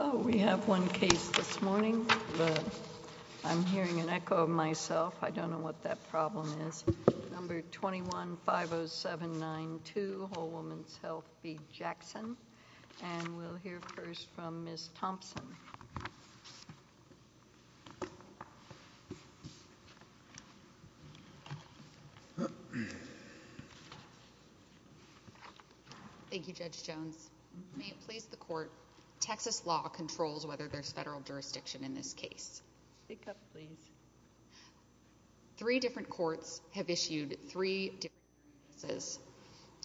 Oh, we have one case this morning, but I'm hearing an echo of myself. I don't know what that problem is. Number 21-50792, Whole Woman's Health v. Jackson. And we'll hear first from Ms. Thompson. Thank you, Judge Jones. May it please the Court, Texas law controls whether there's federal jurisdiction in this case. Three different courts have issued three different sentences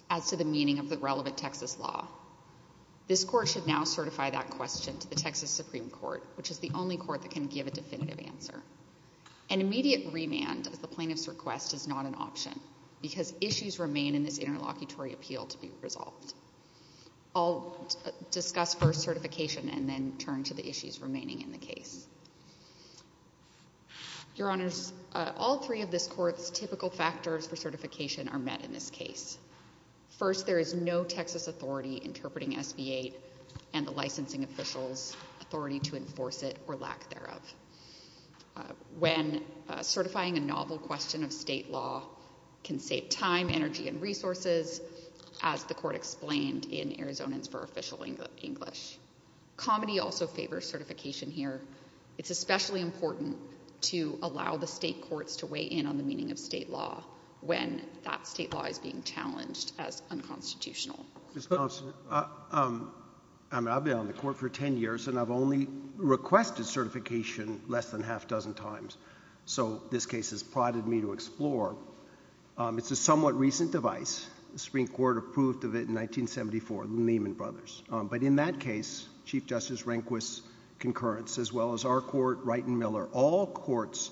as to the meaning of the relevant Texas law. This Court should now certify that question to the Texas Supreme Court, which is the only court that can give a definitive answer. An immediate remand at the plaintiff's request is not an option because issues remain in this interlocutory appeal to be resolved. I'll discuss first certification and then turn to the issues remaining in the case. Your Honors, all three of this Court's typical factors for certification are met in this case. First, there is no Texas authority interpreting SB 8 and the licensing officials' authority to enforce it or lack thereof. When certifying a novel question of state law can save time, energy, and resources, as the Court explained in Arizonans for Official English. Comedy also favors certification here. It's especially important to allow the state courts to weigh in on the meaning of state law when that state law is being challenged as unconstitutional. Ms. Thompson, I've been on the Court for ten years and I've only requested certification less than half a dozen times. So this case has prodded me to explore. It's a somewhat recent device. The Supreme Court approved of it in 1974, Lehman Brothers. But in that case, Chief Justice Rehnquist's concurrence as well as our Court, Wright and Miller, all courts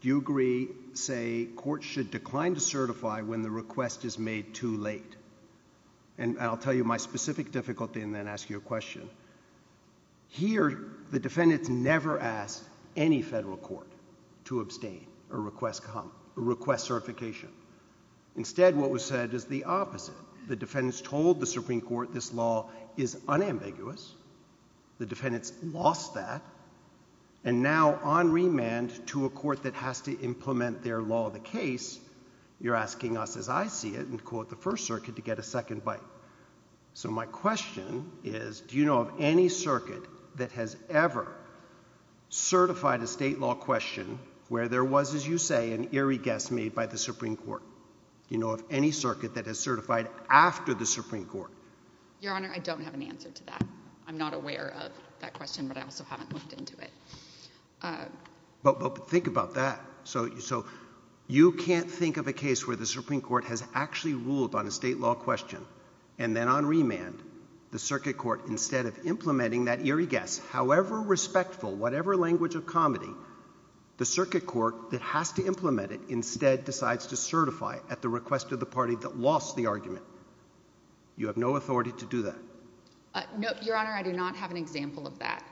do agree, say, courts should decline to certify when the request is made too late. And I'll tell you my specific difficulty and then ask you a question. Here, the defendants never asked any federal court to abstain or request certification. Instead, what was said is the opposite. The defendants told the Supreme Court this law is unambiguous. The defendants lost that. And now on remand to a court that has to implement their law of the case, you're asking us, as I see it, and quote the First Circuit, to get a second bite. So my question is, do you know of any circuit that has ever certified a state law question where there was, as you say, an eerie guess made by the Supreme Court? Do you know of any circuit that has certified after the Supreme Court? Your Honor, I don't have an answer to that. I'm not aware of that question, but I also haven't looked into it. But think about that. So you can't think of a case where the Supreme Court has actually ruled on a state law question and then on remand the circuit court, instead of implementing that eerie guess, however respectful, whatever language of comedy, the circuit court that has to implement it instead decides to certify at the request of the party that lost the argument. You have no authority to do that. No, Your Honor, I do not have an example of that.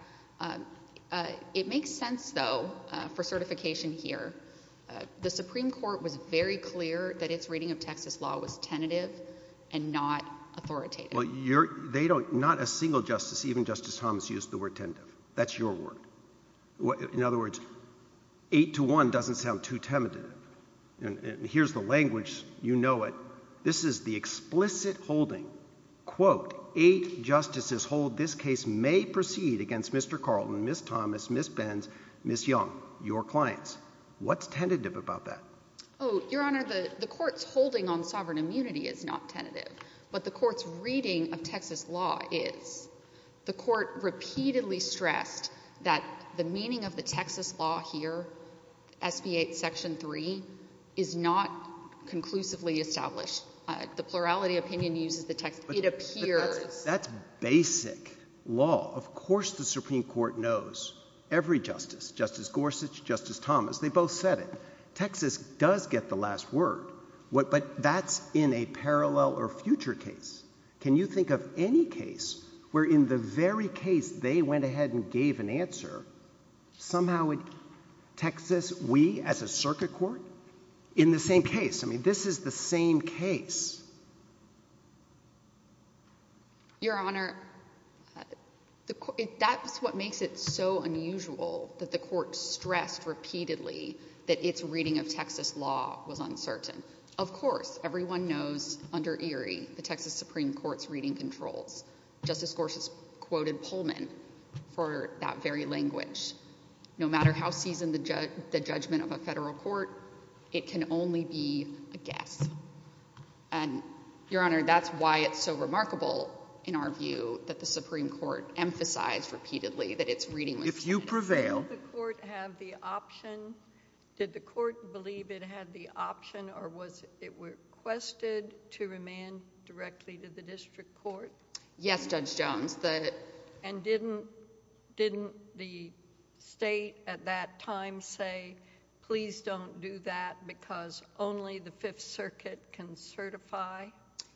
It makes sense, though, for certification here. The Supreme Court was very clear that its reading of Texas law was tentative and not authoritative. Well, they don't – not a single justice, even Justice Thomas, used the word tentative. That's your word. In other words, eight to one doesn't sound too tentative. And here's the language. You know it. This is the explicit holding, quote, eight justices hold this case may proceed against Mr. Carlton, Ms. Thomas, Ms. Benz, Ms. Young, your clients. What's tentative about that? Oh, Your Honor, the court's holding on sovereign immunity is not tentative. But the court's reading of Texas law is. The court repeatedly stressed that the meaning of the Texas law here, SB 8 Section 3, is not conclusively established. The plurality opinion uses the – it appears. That's basic law. Of course the Supreme Court knows. Every justice, Justice Gorsuch, Justice Thomas, they both said it. But Texas does get the last word. But that's in a parallel or future case. Can you think of any case where in the very case they went ahead and gave an answer, somehow Texas, we as a circuit court, in the same case – I mean, this is the same case. Your Honor, that's what makes it so unusual that the court stressed repeatedly that its reading of Texas law was uncertain. Of course, everyone knows under Erie, the Texas Supreme Court's reading controls. Justice Gorsuch quoted Pullman for that very language. No matter how seasoned the judgment of a federal court, it can only be a guess. Your Honor, that's why it's so remarkable in our view that the Supreme Court emphasized repeatedly that its reading was uncertain. If you prevail – Did the court have the option – did the court believe it had the option or was it requested to remand directly to the district court? Yes, Judge Jones. And didn't the state at that time say, please don't do that because only the Fifth Circuit can certify?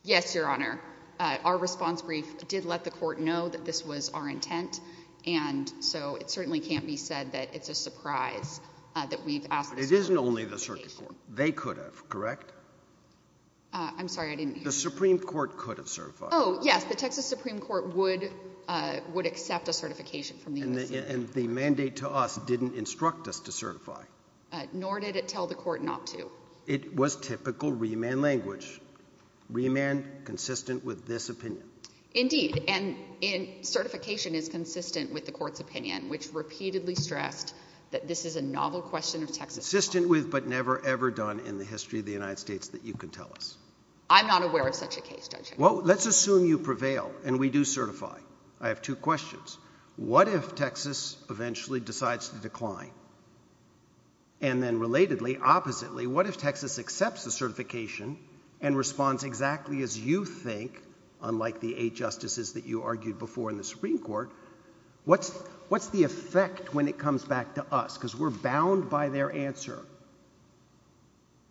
Yes, Your Honor. Our response brief did let the court know that this was our intent. And so it certainly can't be said that it's a surprise that we've asked – It isn't only the circuit court. They could have, correct? I'm sorry, I didn't hear you. The Supreme Court could have certified. Oh, yes. The Texas Supreme Court would accept a certification from the U.S. Supreme Court. And the mandate to us didn't instruct us to certify. Nor did it tell the court not to. It was typical remand language. Remand consistent with this opinion. Indeed. And certification is consistent with the court's opinion, which repeatedly stressed that this is a novel question of Texas law. Consistent with but never, ever done in the history of the United States that you can tell us. I'm not aware of such a case, Judge Hickman. Well, let's assume you prevail and we do certify. I have two questions. What if Texas eventually decides to decline? And then relatedly, oppositely, what if Texas accepts the certification and responds exactly as you think, unlike the eight justices that you argued before in the Supreme Court? What's the effect when it comes back to us? Because we're bound by their answer.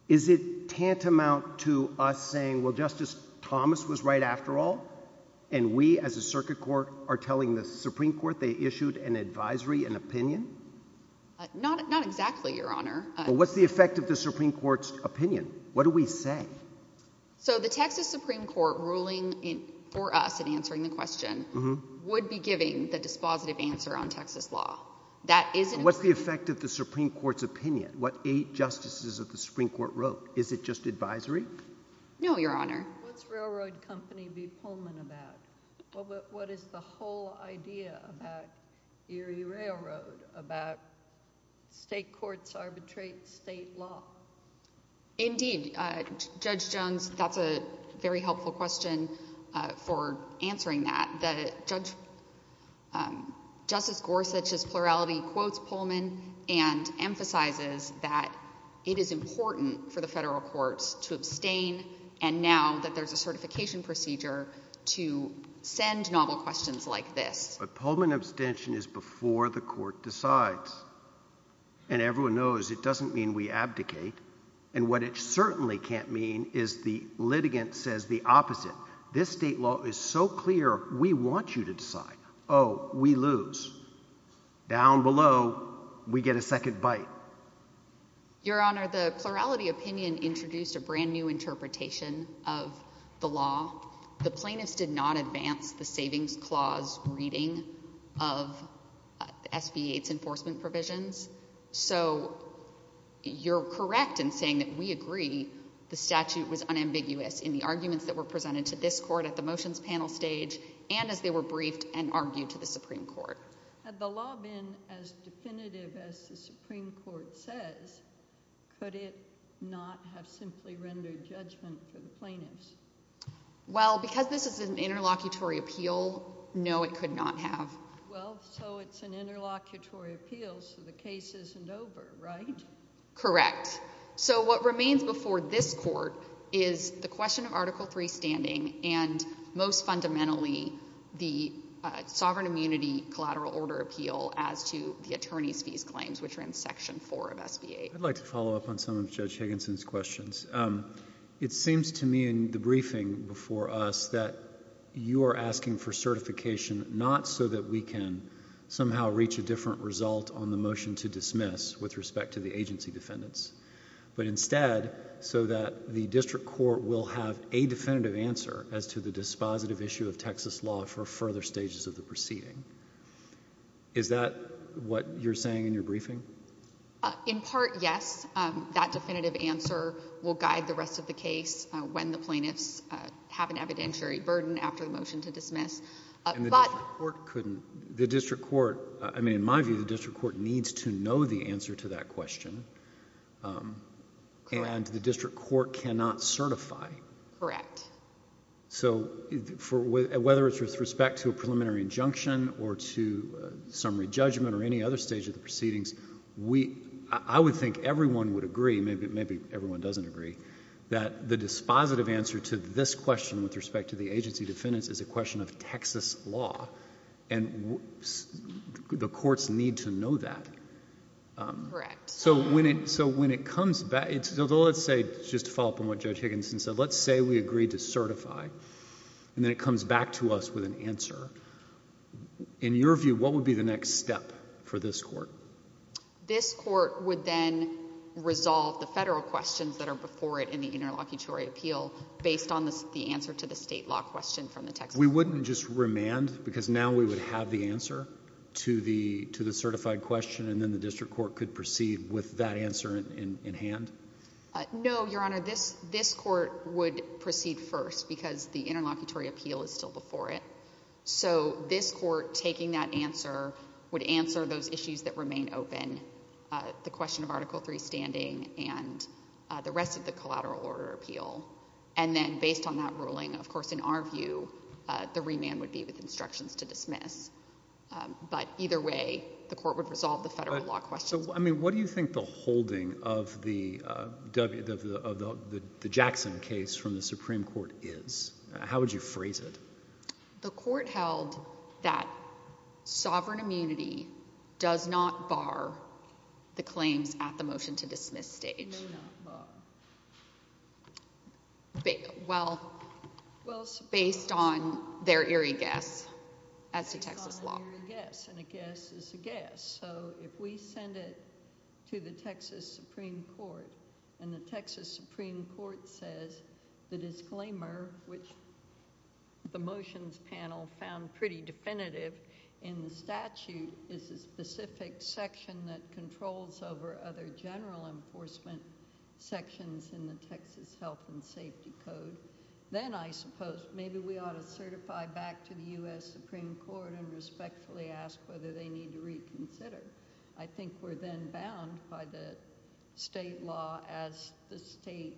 Is it tantamount to us saying, well, Justice Thomas was right after all, and we as a circuit court are telling the Supreme Court they issued an advisory, an opinion? Not exactly, Your Honor. What's the effect of the Supreme Court's opinion? What do we say? So the Texas Supreme Court ruling for us in answering the question would be giving the dispositive answer on Texas law. What's the effect of the Supreme Court's opinion? What eight justices of the Supreme Court wrote? Is it just advisory? No, Your Honor. What's Railroad Company v. Pullman about? What is the whole idea about Erie Railroad, about state courts arbitrate state law? Indeed, Judge Jones, that's a very helpful question for answering that. Justice Gorsuch's plurality quotes Pullman and emphasizes that it is important for the federal courts to abstain, and now that there's a certification procedure to send novel questions like this. But Pullman abstention is before the court decides. And everyone knows it doesn't mean we abdicate. And what it certainly can't mean is the litigant says the opposite. This state law is so clear, we want you to decide. Oh, we lose. Down below, we get a second bite. Your Honor, the plurality opinion introduced a brand new interpretation of the law. The plaintiffs did not advance the savings clause reading of SB 8's enforcement provisions. So you're correct in saying that we agree the statute was unambiguous in the arguments that were presented to this court at the motions panel stage and as they were briefed and argued to the Supreme Court. Had the law been as definitive as the Supreme Court says, could it not have simply rendered judgment for the plaintiffs? Well, because this is an interlocutory appeal, no, it could not have. Well, so it's an interlocutory appeal, so the case isn't over, right? Correct. So what remains before this court is the question of Article 3 standing and most fundamentally the sovereign immunity collateral order appeal as to the attorney's fees claims, which are in Section 4 of SB 8. I'd like to follow up on some of Judge Higginson's questions. It seems to me in the briefing before us that you are asking for certification, not so that we can somehow reach a different result on the motion to dismiss with respect to the agency defendants, but instead so that the district court will have a definitive answer as to the dispositive issue of Texas law for further stages of the proceeding. Is that what you're saying in your briefing? In part, yes. That definitive answer will guide the rest of the case when the plaintiffs have an evidentiary burden after the motion to dismiss. And the district court couldn't. The district court, I mean, in my view, the district court needs to know the answer to that question. And the district court cannot certify. Correct. So whether it's with respect to a preliminary injunction or to summary judgment or any other stage of the proceedings, I would think everyone would agree, maybe everyone doesn't agree, that the dispositive answer to this question with respect to the agency defendants is a question of Texas law. And the courts need to know that. Correct. So when it comes back, let's say, just to follow up on what Judge Higginson said, let's say we agree to certify, and then it comes back to us with an answer. In your view, what would be the next step for this court? This court would then resolve the federal questions that are before it in the interlocutory appeal based on the answer to the state law question from the Texas court. So we wouldn't just remand because now we would have the answer to the certified question and then the district court could proceed with that answer in hand? No, Your Honor. This court would proceed first because the interlocutory appeal is still before it. So this court taking that answer would answer those issues that remain open, the question of Article III standing and the rest of the collateral order appeal. And then based on that ruling, of course, in our view, the remand would be with instructions to dismiss. But either way, the court would resolve the federal law questions. What do you think the holding of the Jackson case from the Supreme Court is? How would you phrase it? The court held that sovereign immunity does not bar the claims at the motion-to-dismiss stage. It may not bar. Well, based on their eerie guess as to Texas law. Based on their eerie guess, and a guess is a guess. So if we send it to the Texas Supreme Court and the Texas Supreme Court says the disclaimer, which the motions panel found pretty definitive in the statute, is a specific section that controls over other general enforcement sections in the Texas Health and Safety Code, then I suppose maybe we ought to certify back to the U.S. Supreme Court and respectfully ask whether they need to reconsider. I think we're then bound by the state law as the state's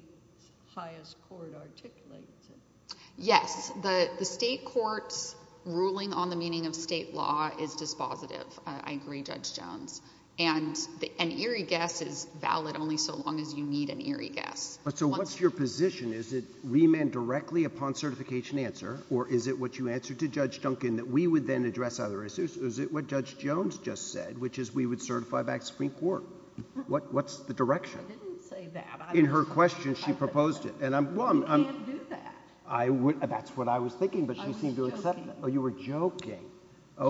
highest court articulates it. Yes. The state court's ruling on the meaning of state law is dispositive. I agree, Judge Jones. And an eerie guess is valid only so long as you need an eerie guess. So what's your position? Is it remand directly upon certification answer? Or is it what you answered to Judge Duncan that we would then address other issues? Is it what Judge Jones just said, which is we would certify back to the Supreme Court? What's the direction? I didn't say that. In her question, she proposed it. You can't do that. That's what I was thinking, but she seemed to accept that. I was joking. Oh, you were joking.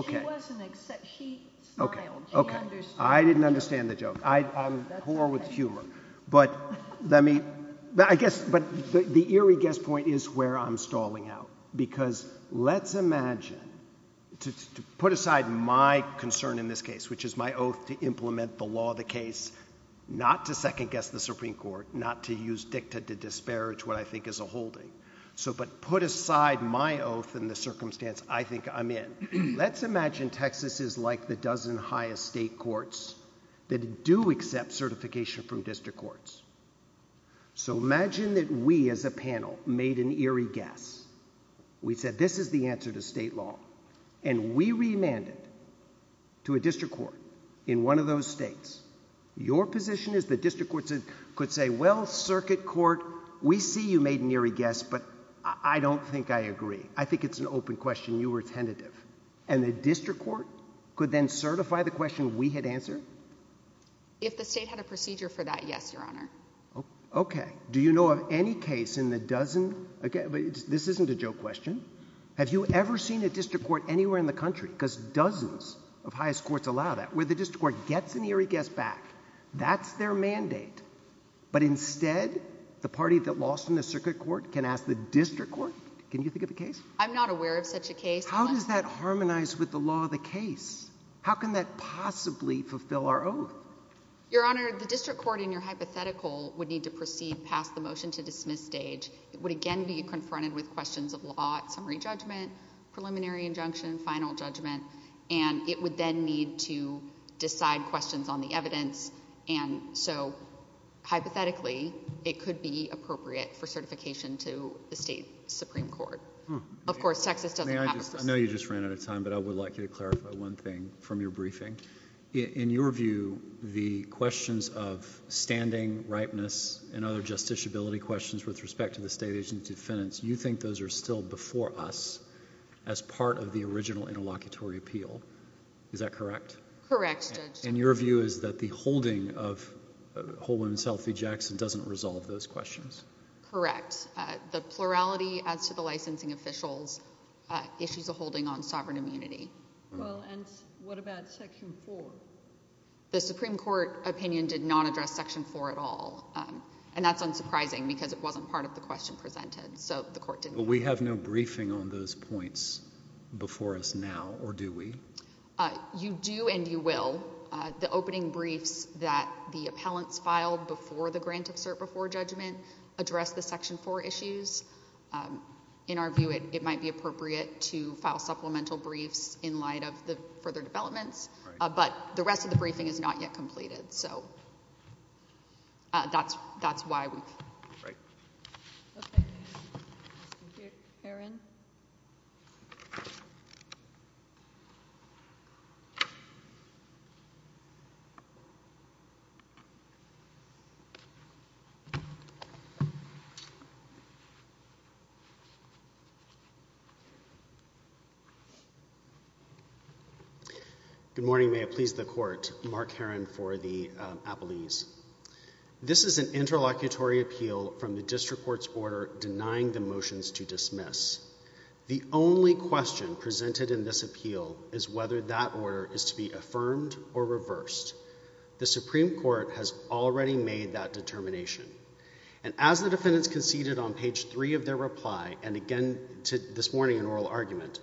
She wasn't accepting. She smiled. She understood. I didn't understand the joke. I'm poor with humor. But I guess the eerie guess point is where I'm stalling out because let's imagine, to put aside my concern in this case, which is my oath to implement the law of the case, not to second-guess the Supreme Court, not to use dicta to disparage what I think is a holding, but put aside my oath in the circumstance I think I'm in. Let's imagine Texas is like the dozen highest state courts that do accept certification from district courts. So imagine that we as a panel made an eerie guess. We said this is the answer to state law. And we remanded to a district court in one of those states. Your position is the district court could say, well, circuit court, we see you made an eerie guess, but I don't think I agree. I think it's an open question. You were tentative. And the district court could then certify the question we had answered? If the state had a procedure for that, yes, Your Honor. Okay. Do you know of any case in the dozen? This isn't a joke question. Have you ever seen a district court anywhere in the country, because dozens of highest courts allow that, where the district court gets an eerie guess back? That's their mandate. But instead, the party that lost in the circuit court can ask the district court, can you think of a case? I'm not aware of such a case. How does that harmonize with the law of the case? How can that possibly fulfill our oath? Your Honor, the district court in your hypothetical would need to proceed past the motion to dismiss stage. It would again be confronted with questions of law at summary judgment, preliminary injunction, final judgment, and it would then need to decide questions on the evidence. And so, hypothetically, it could be appropriate for certification to the state supreme court. Of course, Texas doesn't have a procedure. I know you just ran out of time, but I would like you to clarify one thing from your briefing. In your view, the questions of standing, ripeness, and other justiciability questions with respect to the state agency defendants, you think those are still before us as part of the original interlocutory appeal. Is that correct? Correct, Judge. And your view is that the holding of Whole Woman's Health v. Jackson doesn't resolve those questions? Correct. The plurality as to the licensing officials issues a holding on sovereign immunity. Well, and what about Section 4? The Supreme Court opinion did not address Section 4 at all, and that's unsurprising because it wasn't part of the question presented, so the court didn't. But we have no briefing on those points before us now, or do we? You do and you will. The opening briefs that the appellants filed before the grant of cert before judgment address the Section 4 issues. In our view, it might be appropriate to file supplemental briefs in light of the further developments, but the rest of the briefing is not yet completed, so that's why we've. Right. Okay. Thank you. Erin? Good morning. May it please the Court. Mark Herron for the appellees. This is an interlocutory appeal from the district court's order denying the motions to dismiss. The only question presented in this appeal is whether that order is to be affirmed or reversed. The Supreme Court has already made that determination. And as the defendants conceded on page 3 of their reply and again this morning in oral argument,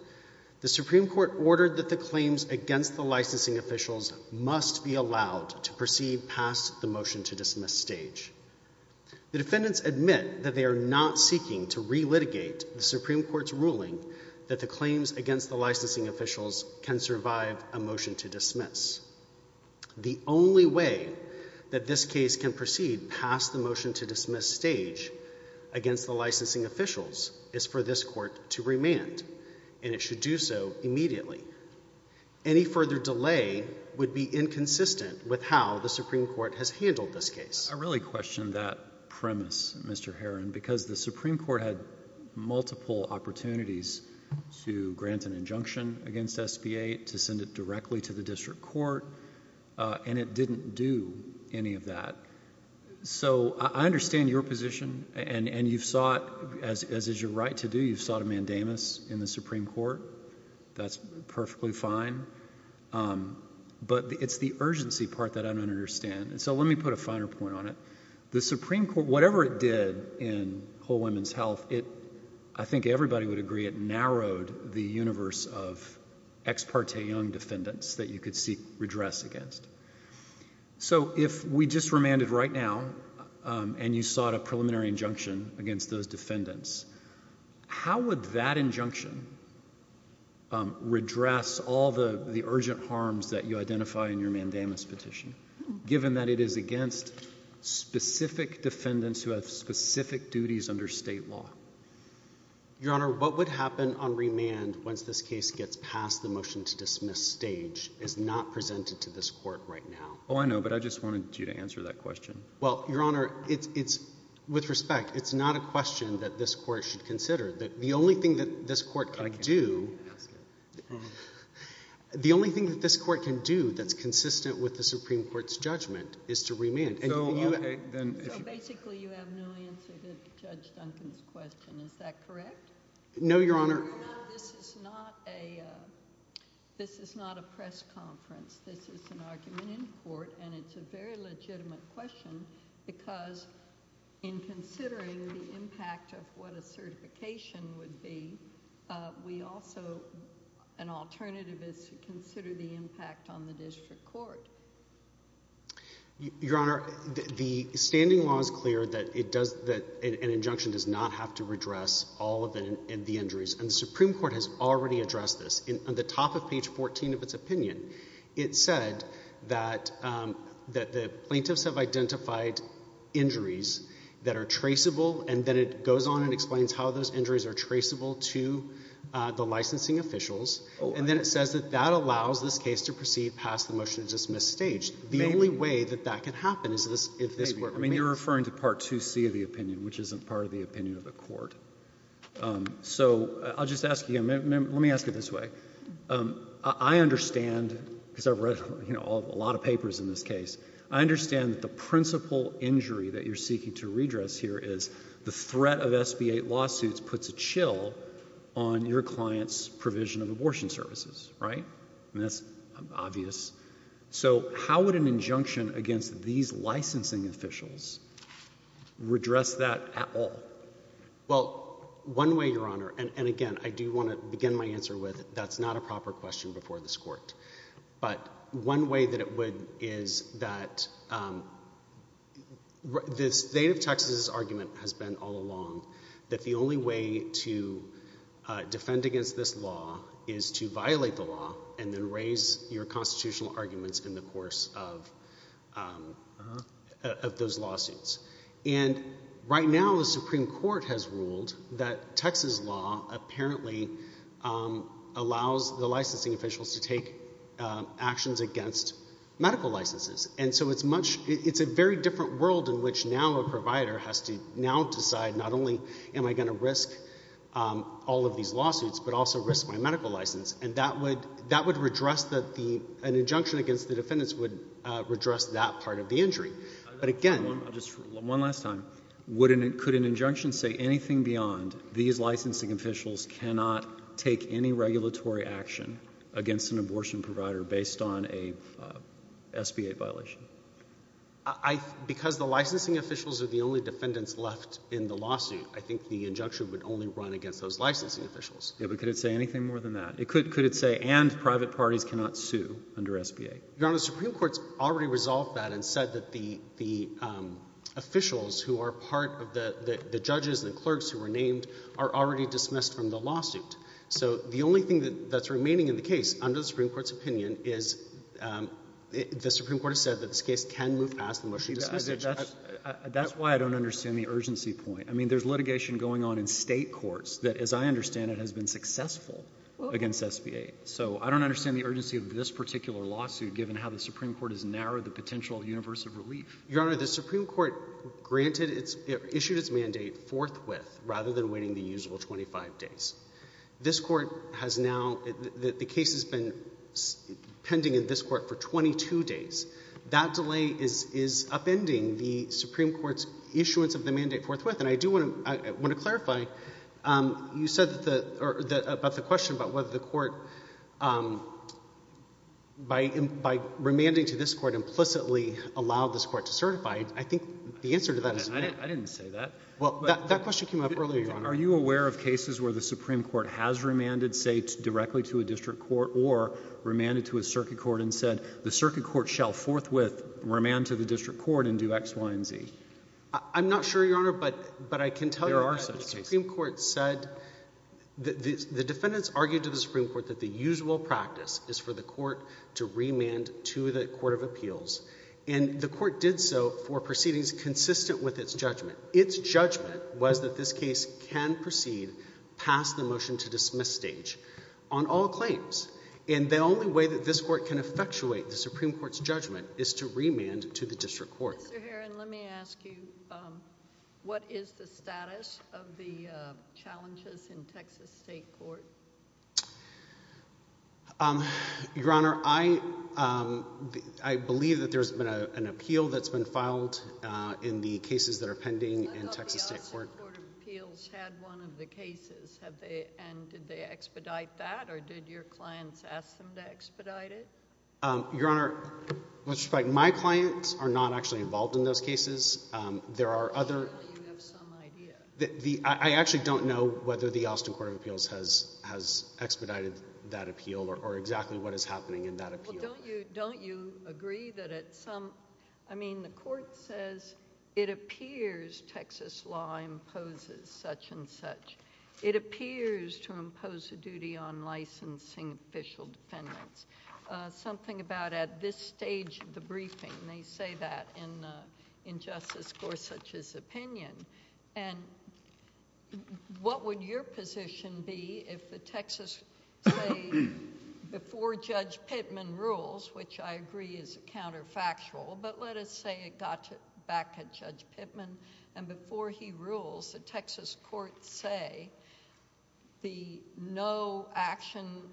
the Supreme Court ordered that the claims against the licensing officials must be allowed to proceed past the motion to dismiss stage. The defendants admit that they are not seeking to relitigate the Supreme Court's ruling that the claims against the licensing officials can survive a motion to dismiss. The only way that this case can proceed past the motion to dismiss stage against the licensing officials is for this court to remand, and it should do so immediately. Any further delay would be inconsistent with how the Supreme Court has handled this case. I really question that premise, Mr. Herron, because the Supreme Court had multiple opportunities to grant an injunction against SB 8, to send it directly to the district court, and it didn't do any of that. So I understand your position, and you've sought, as is your right to do, you've sought a mandamus in the Supreme Court. That's perfectly fine, but it's the urgency part that I don't understand. So let me put a finer point on it. The Supreme Court, whatever it did in Whole Women's Health, I think everybody would agree it narrowed the universe of ex parte young defendants that you could seek redress against. So if we just remanded right now, and you sought a preliminary injunction against those defendants, how would that injunction redress all the urgent harms that you identify in your mandamus petition, given that it is against specific defendants who have specific duties under state law? Your Honor, what would happen on remand once this case gets past the motion to dismiss stage is not presented to this court right now. Oh, I know, but I just wanted you to answer that question. Well, Your Honor, with respect, it's not a question that this court should consider. The only thing that this court can do that's consistent with the Supreme Court's judgment is to remand. So basically you have no answer to Judge Duncan's question. Is that correct? No, Your Honor. This is not a press conference. This is an argument in court, and it's a very legitimate question because in considering the impact of what a certification would be, an alternative is to consider the impact on the district court. Your Honor, the standing law is clear that an injunction does not have to redress all of the injuries, and the Supreme Court has already addressed this. On the top of page 14 of its opinion, it said that the plaintiffs have identified injuries that are traceable, and then it goes on and explains how those injuries are traceable to the licensing officials. And then it says that that allows this case to proceed past the motion to dismiss stage. The only way that that can happen is if this were remanded. I mean, you're referring to Part 2C of the opinion, which isn't part of the opinion of the court. So I'll just ask you, let me ask it this way. I understand, because I've read a lot of papers in this case, I understand that the principal injury that you're seeking to redress here is the threat of SB 8 lawsuits puts a chill on your client's provision of abortion services, right? I mean, that's obvious. So how would an injunction against these licensing officials redress that at all? Well, one way, Your Honor, and again, I do want to begin my answer with that's not a proper question before this court. But one way that it would is that the state of Texas' argument has been all along that the only way to defend against this law is to violate the law and then raise your constitutional arguments in the course of those lawsuits. And right now the Supreme Court has ruled that Texas law apparently allows the licensing officials to take actions against medical licenses. And so it's a very different world in which now a provider has to now decide not only am I going to risk all of these lawsuits, but also risk my medical license. And that would redress the—an injunction against the defendants would redress that part of the injury. But again— One last time. Could an injunction say anything beyond these licensing officials cannot take any regulatory action against an abortion provider based on a SB 8 violation? Because the licensing officials are the only defendants left in the lawsuit, I think the injunction would only run against those licensing officials. Yeah, but could it say anything more than that? Could it say and private parties cannot sue under SB 8? Your Honor, the Supreme Court's already resolved that and said that the officials who are part of the judges and the clerks who were named are already dismissed from the lawsuit. So the only thing that's remaining in the case under the Supreme Court's opinion is the Supreme Court has said that this case can move past the motion to dismiss it. That's why I don't understand the urgency point. I mean there's litigation going on in State courts that, as I understand it, has been successful against SB 8. So I don't understand the urgency of this particular lawsuit given how the Supreme Court has narrowed the potential universe of relief. Your Honor, the Supreme Court granted its—issued its mandate forthwith rather than waiting the usual 25 days. This Court has now—the case has been pending in this Court for 22 days. That delay is upending the Supreme Court's issuance of the mandate forthwith. And I do want to clarify. You said that—about the question about whether the Court, by remanding to this Court, implicitly allowed this Court to certify. I think the answer to that is yes. I didn't say that. Well, that question came up earlier, Your Honor. Are you aware of cases where the Supreme Court has remanded, say, directly to a district court or remanded to a circuit court and said the circuit court shall forthwith remand to the district court and do X, Y, and Z? I'm not sure, Your Honor, but I can tell you— There are such cases. —the Supreme Court said—the defendants argued to the Supreme Court that the usual practice is for the Court to remand to the court of appeals. And the Court did so for proceedings consistent with its judgment. Its judgment was that this case can proceed past the motion-to-dismiss stage on all claims. And the only way that this Court can effectuate the Supreme Court's judgment is to remand to the district court. Mr. Herron, let me ask you, what is the status of the challenges in Texas State Court? Your Honor, I believe that there's been an appeal that's been filed in the cases that are pending in Texas State Court. I thought the Austin Court of Appeals had one of the cases. And did they expedite that, or did your clients ask them to expedite it? Your Honor, with respect, my clients are not actually involved in those cases. There are other— I'm sure that you have some idea. I actually don't know whether the Austin Court of Appeals has expedited that appeal or exactly what is happening in that appeal. Well, don't you agree that at some—I mean, the Court says it appears Texas law imposes such and such. It appears to impose a duty on licensing official defendants. Something about at this stage of the briefing, they say that in Justice Gorsuch's opinion. And what would your position be if the Texas State—before Judge Pittman rules, which I agree is counterfactual, but let us say it got back at Judge Pittman, and before he rules, the Texas courts say the no-action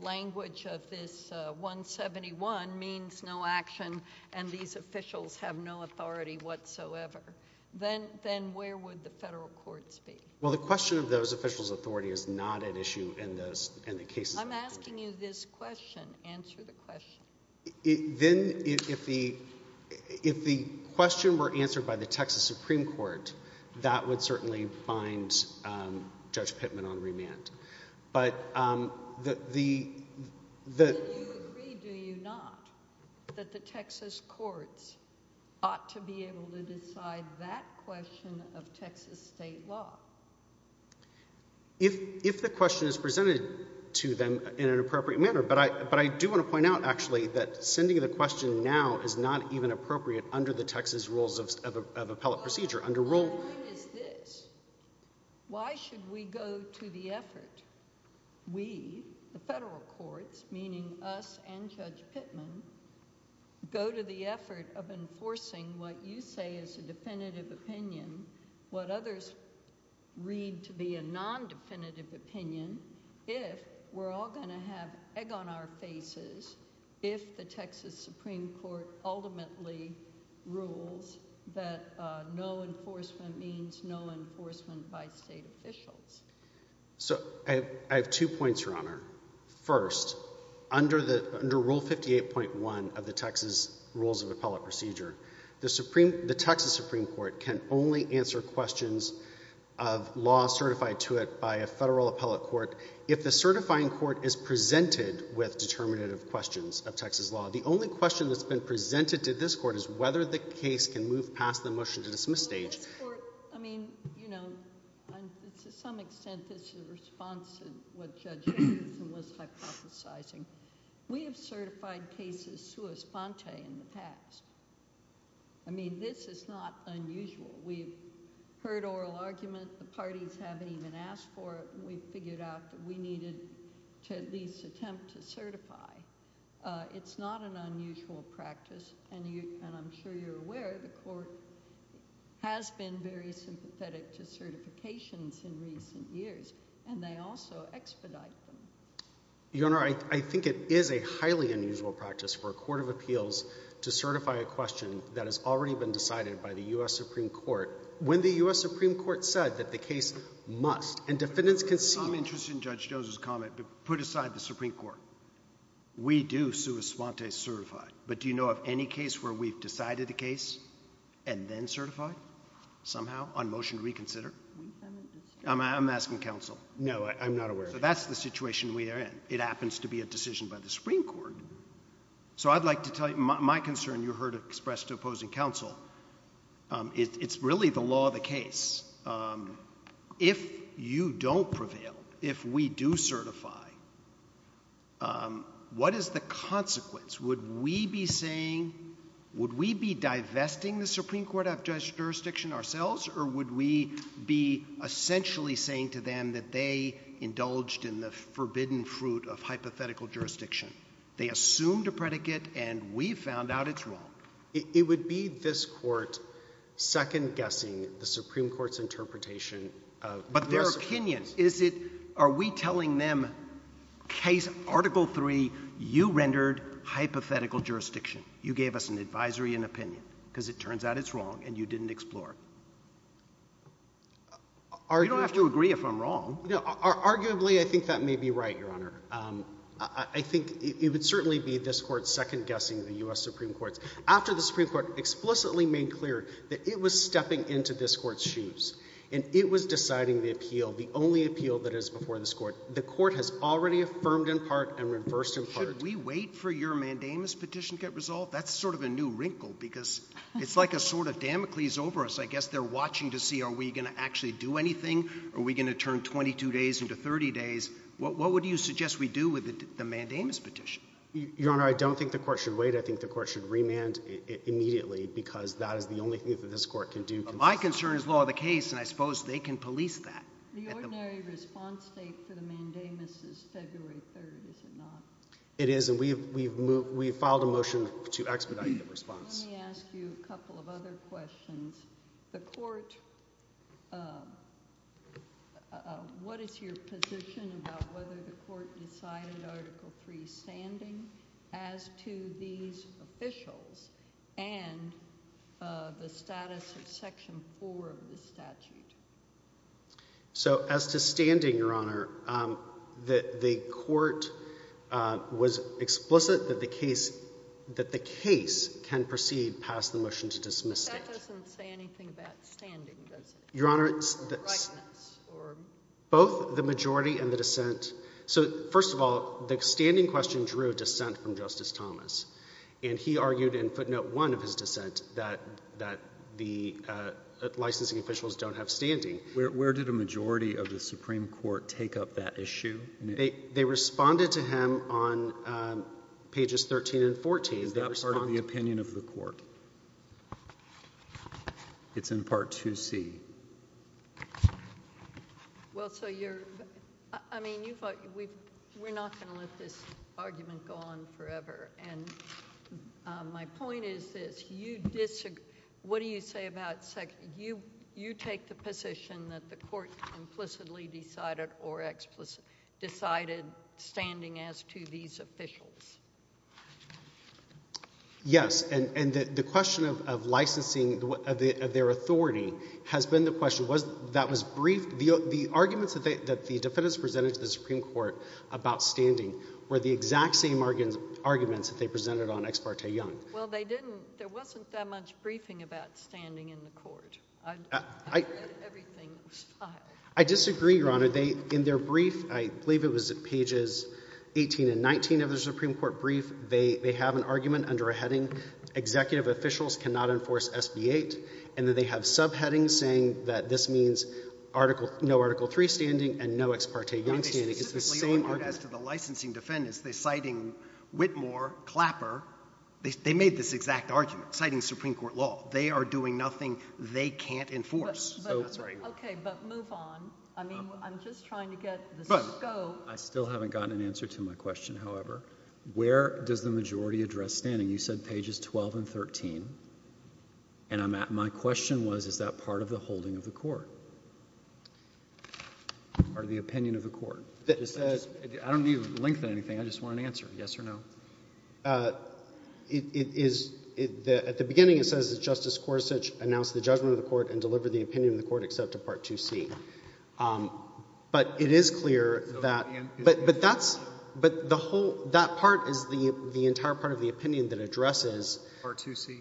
language of this 171 means no action and these officials have no authority whatsoever. Then where would the federal courts be? Well, the question of those officials' authority is not at issue in the cases that are pending. I'm asking you this question. Answer the question. Then if the question were answered by the Texas Supreme Court, that would certainly find Judge Pittman on remand. But the— Do you agree, do you not, that the Texas courts ought to be able to decide that question of Texas state law? If the question is presented to them in an appropriate manner. But I do want to point out, actually, that sending the question now is not even appropriate under the Texas rules of appellate procedure. My point is this. Why should we go to the effort, we, the federal courts, meaning us and Judge Pittman, go to the effort of enforcing what you say is a definitive opinion, what others read to be a non-definitive opinion, if we're all going to have egg on our faces if the Texas Supreme Court ultimately rules that no enforcement means no enforcement by state officials? So, I have two points, Your Honor. First, under Rule 58.1 of the Texas rules of appellate procedure, the Texas Supreme Court can only answer questions of law certified to it by a federal appellate court if the certifying court is presented with determinative questions of Texas law. The only question that's been presented to this court is whether the case can move past the motion to dismiss stage. This court, I mean, you know, to some extent, this is a response to what Judge Higgins was hypothesizing. We have certified cases sua sponte in the past. I mean, this is not unusual. We've heard oral argument. The parties haven't even asked for it. We figured out that we needed to at least attempt to certify. It's not an unusual practice. And I'm sure you're aware the court has been very sympathetic to certifications in recent years, and they also expedite them. Your Honor, I think it is a highly unusual practice for a court of appeals to certify a question that has already been decided by the U.S. Supreme Court when the U.S. Supreme Court said that the case must, and defendants can see— I'm interested in Judge Jones's comment, but put aside the Supreme Court. We do sua sponte certified. But do you know of any case where we've decided a case and then certified somehow on motion to reconsider? I'm asking counsel. No, I'm not aware of that. So that's the situation we are in. It happens to be a decision by the Supreme Court. So I'd like to tell you, my concern you heard expressed to opposing counsel, it's really the law of the case. If you don't prevail, if we do certify, what is the consequence? Would we be saying—would we be divesting the Supreme Court of jurisdiction ourselves, or would we be essentially saying to them that they indulged in the forbidden fruit of hypothetical jurisdiction? They assumed a predicate, and we found out it's wrong. It would be this Court second-guessing the Supreme Court's interpretation of— But their opinion. Is it—are we telling them case—Article III, you rendered hypothetical jurisdiction. You gave us an advisory and opinion because it turns out it's wrong, and you didn't explore it. You don't have to agree if I'm wrong. Arguably, I think that may be right, Your Honor. I think it would certainly be this Court second-guessing the U.S. Supreme Court's. After the Supreme Court explicitly made clear that it was stepping into this Court's shoes, and it was deciding the appeal, the only appeal that is before this Court, the Court has already affirmed in part and reversed in part— Should we wait for your mandamus petition to get resolved? That's sort of a new wrinkle because it's like a sword of Damocles over us. I guess they're watching to see are we going to actually do anything, are we going to turn 22 days into 30 days. What would you suggest we do with the mandamus petition? Your Honor, I don't think the Court should wait. I think the Court should remand it immediately because that is the only thing that this Court can do. My concern is law of the case, and I suppose they can police that. The ordinary response date for the mandamus is February 3rd, is it not? It is, and we filed a motion to expedite the response. Let me ask you a couple of other questions. The Court—what is your position about whether the Court decided Article III standing as to these officials and the status of Section 4 of the statute? So as to standing, Your Honor, the Court was explicit that the case can proceed past the motion to dismiss it. But that doesn't say anything about standing, does it? Your Honor, both the majority and the dissent—so first of all, the standing question drew a dissent from Justice Thomas, and he argued in footnote 1 of his dissent that the licensing officials don't have standing. Where did a majority of the Supreme Court take up that issue? They responded to him on pages 13 and 14. Is that part of the opinion of the Court? It's in Part 2C. Well, so you're—I mean, you thought—we're not going to let this argument go on forever, and my point is this. You disagree—what do you say about—you take the position that the Court implicitly decided or explicitly decided standing as to these officials? Yes, and the question of licensing of their authority has been the question. That was briefed—the arguments that the defendants presented to the Supreme Court about standing were the exact same arguments that they presented on Ex parte Young. Well, they didn't—there wasn't that much briefing about standing in the Court. Everything was filed. I disagree, Your Honor. They—in their brief, I believe it was pages 18 and 19 of their Supreme Court brief, they have an argument under a heading, Executive Officials Cannot Enforce SB-8, and then they have subheadings saying that this means no Article III standing and no Ex parte Young standing. It's the same argument. I mean, specifically as to the licensing defendants, they're citing Whitmore, Clapper. They made this exact argument, citing Supreme Court law. They are doing nothing they can't enforce. Okay, but move on. I mean, I'm just trying to get the scope. I still haven't gotten an answer to my question, however. Where does the majority address standing? You said pages 12 and 13, and my question was, is that part of the holding of the Court or the opinion of the Court? I don't need to lengthen anything. I just want an answer, yes or no. It is—at the beginning it says that Justice Gorsuch announced the judgment of the Court and delivered the opinion of the Court except to Part 2C. But it is clear that—but that's—but the whole—that part is the entire part of the opinion that addresses— Part 2C.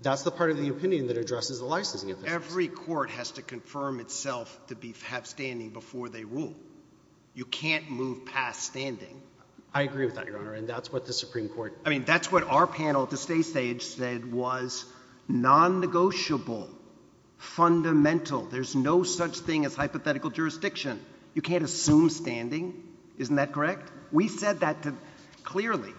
That's the part of the opinion that addresses the licensing officers. Every court has to confirm itself to have standing before they rule. You can't move past standing. I agree with that, Your Honor, and that's what the Supreme Court— I mean, that's what our panel at the state stage said was non-negotiable, fundamental. There's no such thing as hypothetical jurisdiction. You can't assume standing. Isn't that correct? We said that clearly.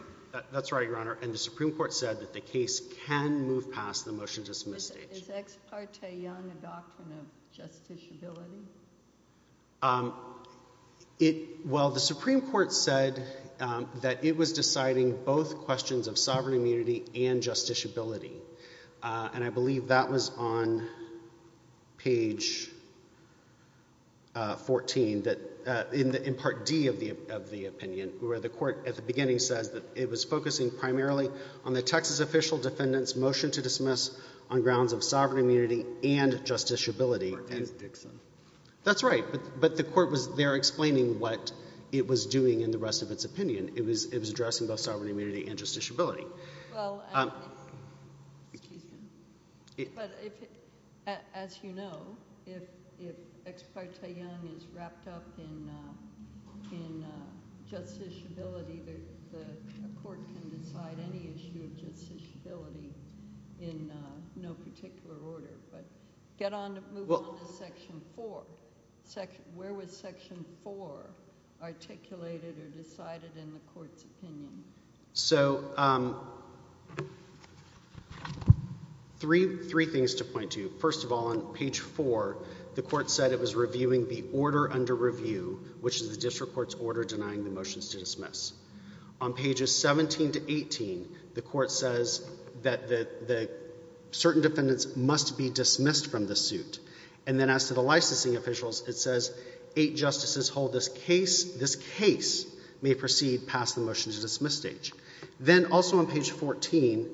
That's right, Your Honor, and the Supreme Court said that the case can move past the motion to dismiss stage. Is Ex parte Young a doctrine of justiciability? It—well, the Supreme Court said that it was deciding both questions of sovereign immunity and justiciability, and I believe that was on page 14 that—in Part D of the opinion, where the Court at the beginning says that it was focusing primarily on the Texas official defendant's motion to dismiss on grounds of sovereign immunity and justiciability. Part D, Dixon. That's right, but the Court was there explaining what it was doing in the rest of its opinion. It was addressing both sovereign immunity and justiciability. Well, as you know, if Ex parte Young is wrapped up in justiciability, the court can decide any issue of justiciability in no particular order. But get on—move on to Section 4. Where was Section 4 articulated or decided in the Court's opinion? So, three things to point to. First of all, on page 4, the Court said it was reviewing the order under review, which is the district court's order denying the motions to dismiss. On pages 17 to 18, the Court says that certain defendants must be dismissed from the suit. And then as to the licensing officials, it says eight justices hold this case. This case may proceed past the motion to dismiss stage. Then also on page 14,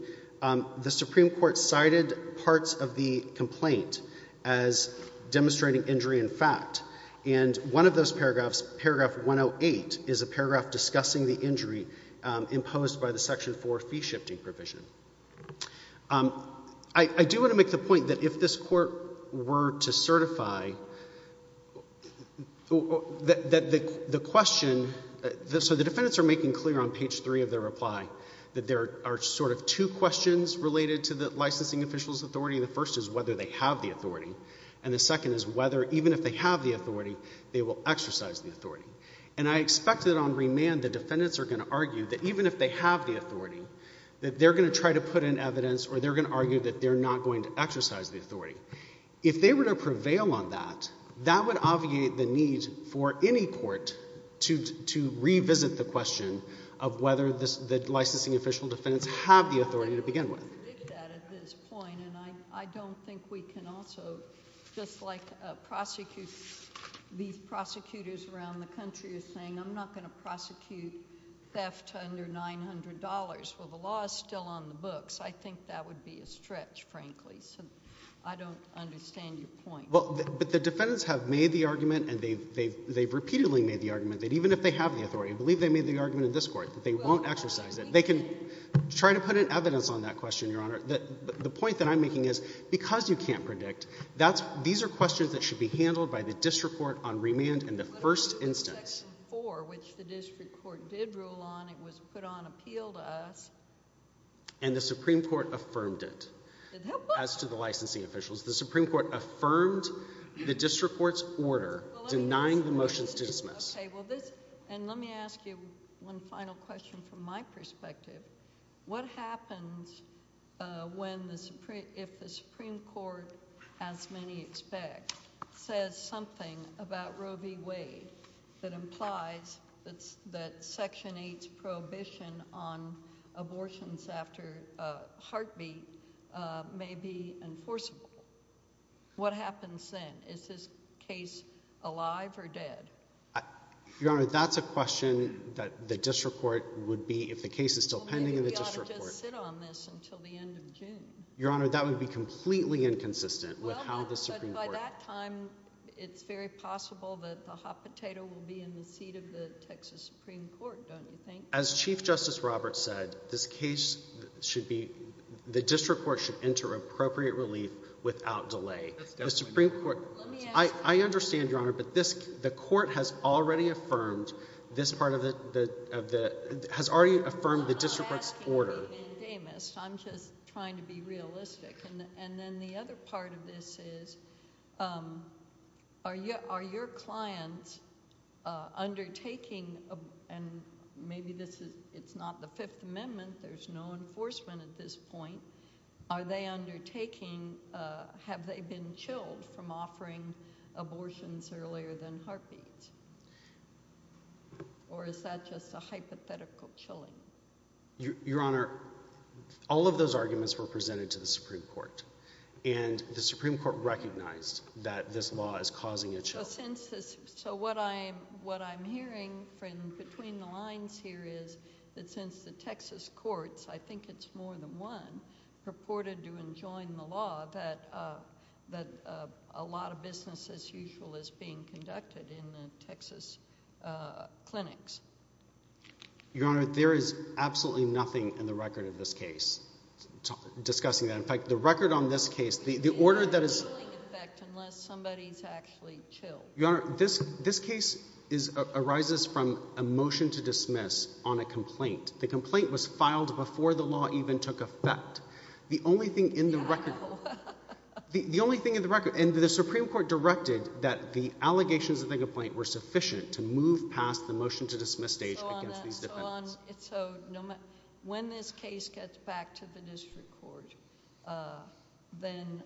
the Supreme Court cited parts of the complaint as demonstrating injury in fact. And one of those paragraphs, paragraph 108, is a paragraph discussing the injury imposed by the Section 4 fee-shifting provision. I do want to make the point that if this Court were to certify that the question— so the defendants are making clear on page 3 of their reply that there are sort of two questions related to the licensing officials' authority. The first is whether they have the authority. And the second is whether, even if they have the authority, they will exercise the authority. And I expect that on remand the defendants are going to argue that even if they have the authority, that they're going to try to put in evidence or they're going to argue that they're not going to exercise the authority. If they were to prevail on that, that would obviate the need for any court to revisit the question of whether the licensing official defendants have the authority to begin with. I don't think we can predict that at this point. And I don't think we can also, just like these prosecutors around the country are saying, I'm not going to prosecute theft under $900. Well, the law is still on the books. I think that would be a stretch, frankly. So I don't understand your point. But the defendants have made the argument, and they've repeatedly made the argument, that even if they have the authority, I believe they made the argument in this Court, that they won't exercise it. They can try to put in evidence on that question, Your Honor. The point that I'm making is because you can't predict, these are questions that should be handled by the district court on remand in the first instance. Section 4, which the district court did rule on, it was put on appeal to us. And the Supreme Court affirmed it as to the licensing officials. The Supreme Court affirmed the district court's order denying the motions to dismiss. And let me ask you one final question from my perspective. What happens if the Supreme Court, as many expect, says something about Roe v. Wade that implies that Section 8's prohibition on abortions after heartbeat may be enforceable? What happens then? Is this case alive or dead? Your Honor, that's a question that the district court would be, if the case is still pending in the district court. Well, maybe we ought to just sit on this until the end of June. Your Honor, that would be completely inconsistent with how the Supreme Court— Well, but by that time, it's very possible that the hot potato will be in the seat of the Texas Supreme Court, don't you think? As Chief Justice Roberts said, this case should be, the district court should enter appropriate relief without delay. The Supreme Court—I understand, Your Honor, but the court has already affirmed this part of the— has already affirmed the district court's order. I'm not asking you to be an endemist. I'm just trying to be realistic. And then the other part of this is, are your clients undertaking— and maybe this is—it's not the Fifth Amendment. There's no enforcement at this point. Are they undertaking—have they been chilled from offering abortions earlier than heartbeats? Or is that just a hypothetical chilling? Your Honor, all of those arguments were presented to the Supreme Court, and the Supreme Court recognized that this law is causing a chill. So what I'm hearing from between the lines here is that since the Texas courts— purported to enjoin the law, that a lot of business as usual is being conducted in the Texas clinics. Your Honor, there is absolutely nothing in the record of this case discussing that. In fact, the record on this case, the order that is— There's no chilling effect unless somebody's actually chilled. Your Honor, this case arises from a motion to dismiss on a complaint. The complaint was filed before the law even took effect. The only thing in the record— How? The only thing in the record—and the Supreme Court directed that the allegations of the complaint were sufficient to move past the motion to dismiss stage against these defendants. So on that—so when this case gets back to the district court, then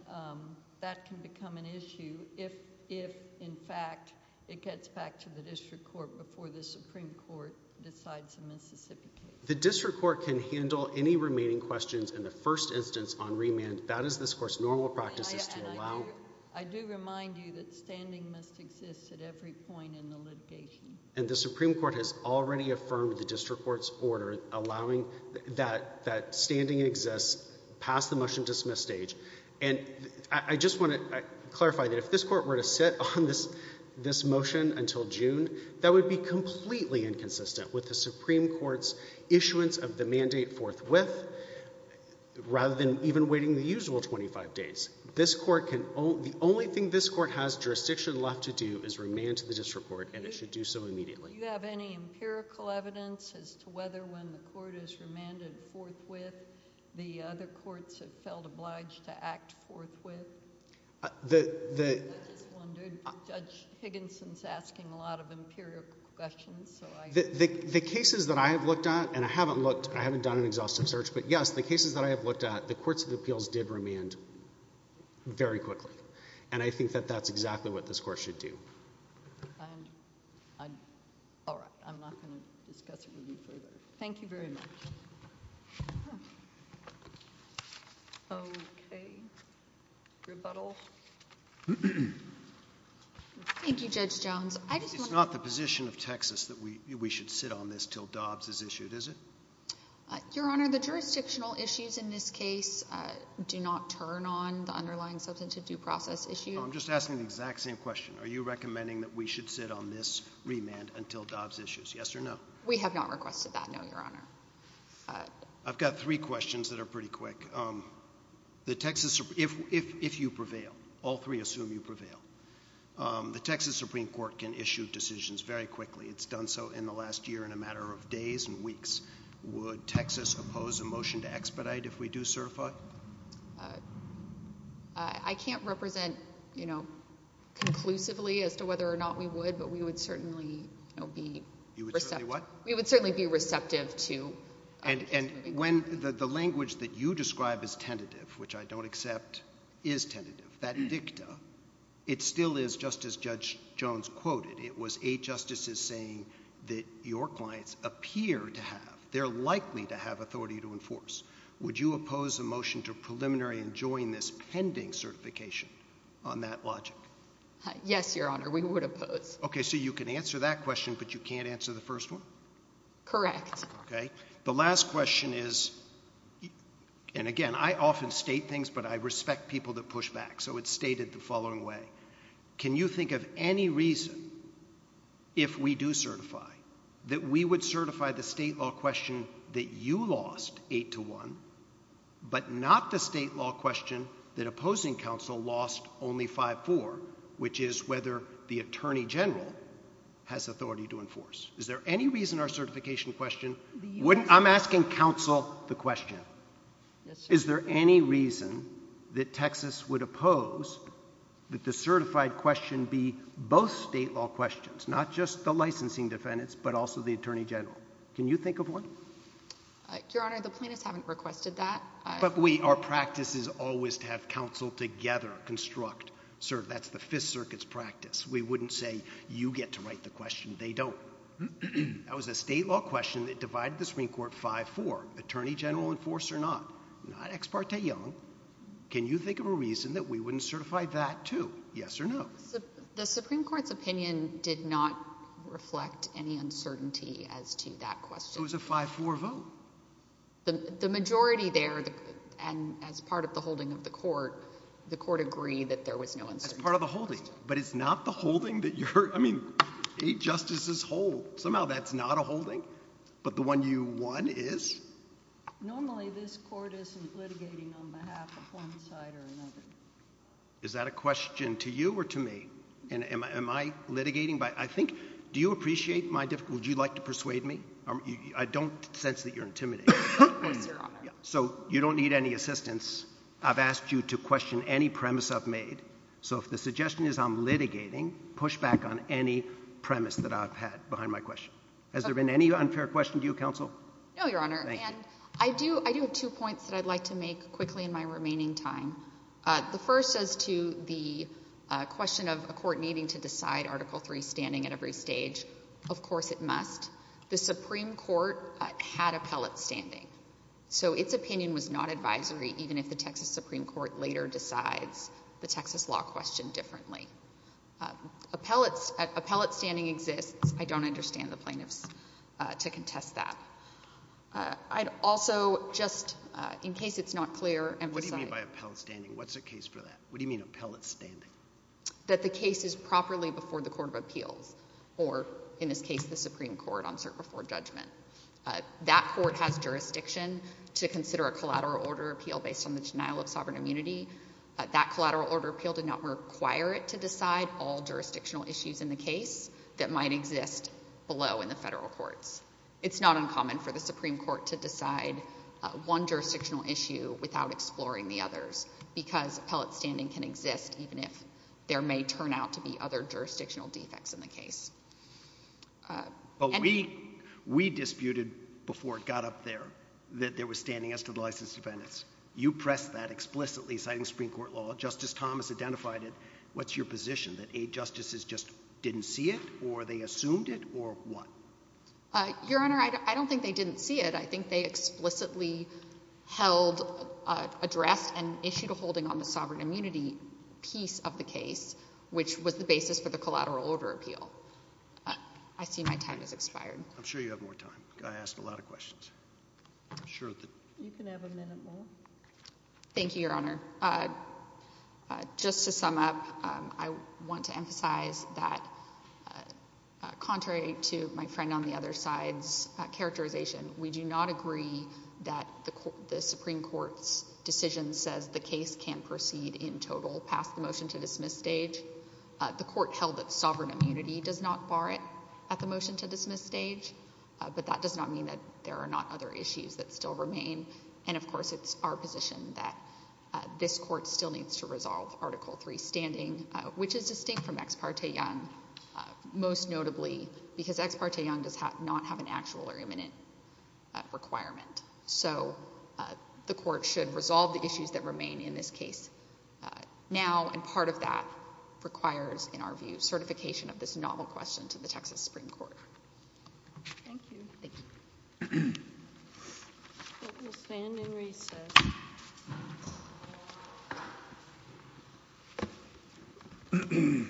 that can become an issue if, in fact, it gets back to the district court before the Supreme Court decides to mis-sicificate. The district court can handle any remaining questions in the first instance on remand. That is this court's normal practices to allow. I do remind you that standing must exist at every point in the litigation. And the Supreme Court has already affirmed the district court's order allowing that standing exists past the motion to dismiss stage. And I just want to clarify that if this court were to sit on this motion until June, that would be completely inconsistent with the Supreme Court's issuance of the mandate forthwith rather than even waiting the usual 25 days. This court can—the only thing this court has jurisdiction left to do is remand to the district court, and it should do so immediately. Do you have any empirical evidence as to whether when the court is remanded forthwith, the other courts have felt obliged to act forthwith? I just wondered. Judge Higginson's asking a lot of empirical questions, so I— The cases that I have looked at, and I haven't looked—I haven't done an exhaustive search, but yes, the cases that I have looked at, the courts of appeals did remand very quickly. And I think that that's exactly what this court should do. All right. I'm not going to discuss it with you further. Thank you very much. Okay. Rebuttal. Thank you, Judge Jones. I just want to— It's not the position of Texas that we should sit on this until Dobbs is issued, is it? Your Honor, the jurisdictional issues in this case do not turn on the underlying substantive due process issue. I'm just asking the exact same question. Are you recommending that we should sit on this remand until Dobbs issues? Yes or no? We have not requested that, no, Your Honor. I've got three questions that are pretty quick. The Texas—if you prevail, all three assume you prevail, the Texas Supreme Court can issue decisions very quickly. It's done so in the last year in a matter of days and weeks. Would Texas oppose a motion to expedite if we do certify? I can't represent, you know, conclusively as to whether or not we would, but we would certainly, you know, be— You would certainly what? We would certainly be receptive to— And when the language that you describe as tentative, which I don't accept is tentative, that dicta, it still is just as Judge Jones quoted. It was eight justices saying that your clients appear to have—they're likely to have authority to enforce. Would you oppose a motion to preliminary and join this pending certification on that logic? Yes, Your Honor, we would oppose. Okay, so you can answer that question, but you can't answer the first one? Correct. Okay. The last question is—and again, I often state things, but I respect people that push back, so it's stated the following way. Can you think of any reason, if we do certify, that we would certify the state law question that you lost 8-1, but not the state law question that opposing counsel lost only 5-4, which is whether the attorney general has authority to enforce? Is there any reason our certification question—I'm asking counsel the question. Yes, Your Honor. Is there any reason that Texas would oppose that the certified question be both state law questions, not just the licensing defendants, but also the attorney general? Can you think of one? Your Honor, the plaintiffs haven't requested that. But our practice is always to have counsel together construct. That's the Fifth Circuit's practice. We wouldn't say, you get to write the question. They don't. That was a state law question that divided the Supreme Court 5-4, attorney general enforce or not. Not ex parte young. Can you think of a reason that we wouldn't certify that, too? Yes or no? The Supreme Court's opinion did not reflect any uncertainty as to that question. It was a 5-4 vote. The majority there, and as part of the holding of the court, the court agreed that there was no uncertainty. That's part of the holding. But it's not the holding that you're—I mean, eight justices hold. Somehow that's not a holding. But the one you won is? Normally this court isn't litigating on behalf of one side or another. Is that a question to you or to me? Am I litigating by—I think—do you appreciate my—would you like to persuade me? I don't sense that you're intimidated. Of course, Your Honor. So you don't need any assistance. I've asked you to question any premise I've made. So if the suggestion is I'm litigating, push back on any premise that I've had behind my question. Has there been any unfair question to you, counsel? No, Your Honor. And I do have two points that I'd like to make quickly in my remaining time. The first is to the question of a court needing to decide Article III standing at every stage. Of course it must. The Supreme Court had appellate standing. So its opinion was not advisory, even if the Texas Supreme Court later decides the Texas law question differently. Appellate standing exists. I don't understand the plaintiffs to contest that. I'd also just, in case it's not clear, emphasize— Appellate standing. What's a case for that? What do you mean appellate standing? That the case is properly before the court of appeals, or in this case the Supreme Court, on cert before judgment. That court has jurisdiction to consider a collateral order appeal based on the denial of sovereign immunity. That collateral order appeal did not require it to decide all jurisdictional issues in the case that might exist below in the federal courts. It's not uncommon for the Supreme Court to decide one jurisdictional issue without exploring the others, because appellate standing can exist even if there may turn out to be other jurisdictional defects in the case. But we disputed before it got up there that there was standing as to the licensed defendants. You pressed that explicitly, citing Supreme Court law. Justice Thomas identified it. What's your position, that eight justices just didn't see it, or they assumed it, or what? Your Honor, I don't think they didn't see it. I think they explicitly held—addressed and issued a holding on the sovereign immunity piece of the case, which was the basis for the collateral order appeal. I see my time has expired. I'm sure you have more time. I asked a lot of questions. I'm sure that— You can have a minute more. Thank you, Your Honor. Just to sum up, I want to emphasize that contrary to my friend on the other side's characterization, we do not agree that the Supreme Court's decision says the case can proceed in total past the motion-to-dismiss stage. The court held that sovereign immunity does not bar it at the motion-to-dismiss stage, but that does not mean that there are not other issues that still remain. And, of course, it's our position that this court still needs to resolve Article III standing, which is distinct from Ex parte Young, most notably because Ex parte Young does not have an actual or imminent requirement. So the court should resolve the issues that remain in this case now, and part of that requires, in our view, certification of this novel question to the Texas Supreme Court. Thank you. Thank you. We'll stand and recess. Thank you. Thank you.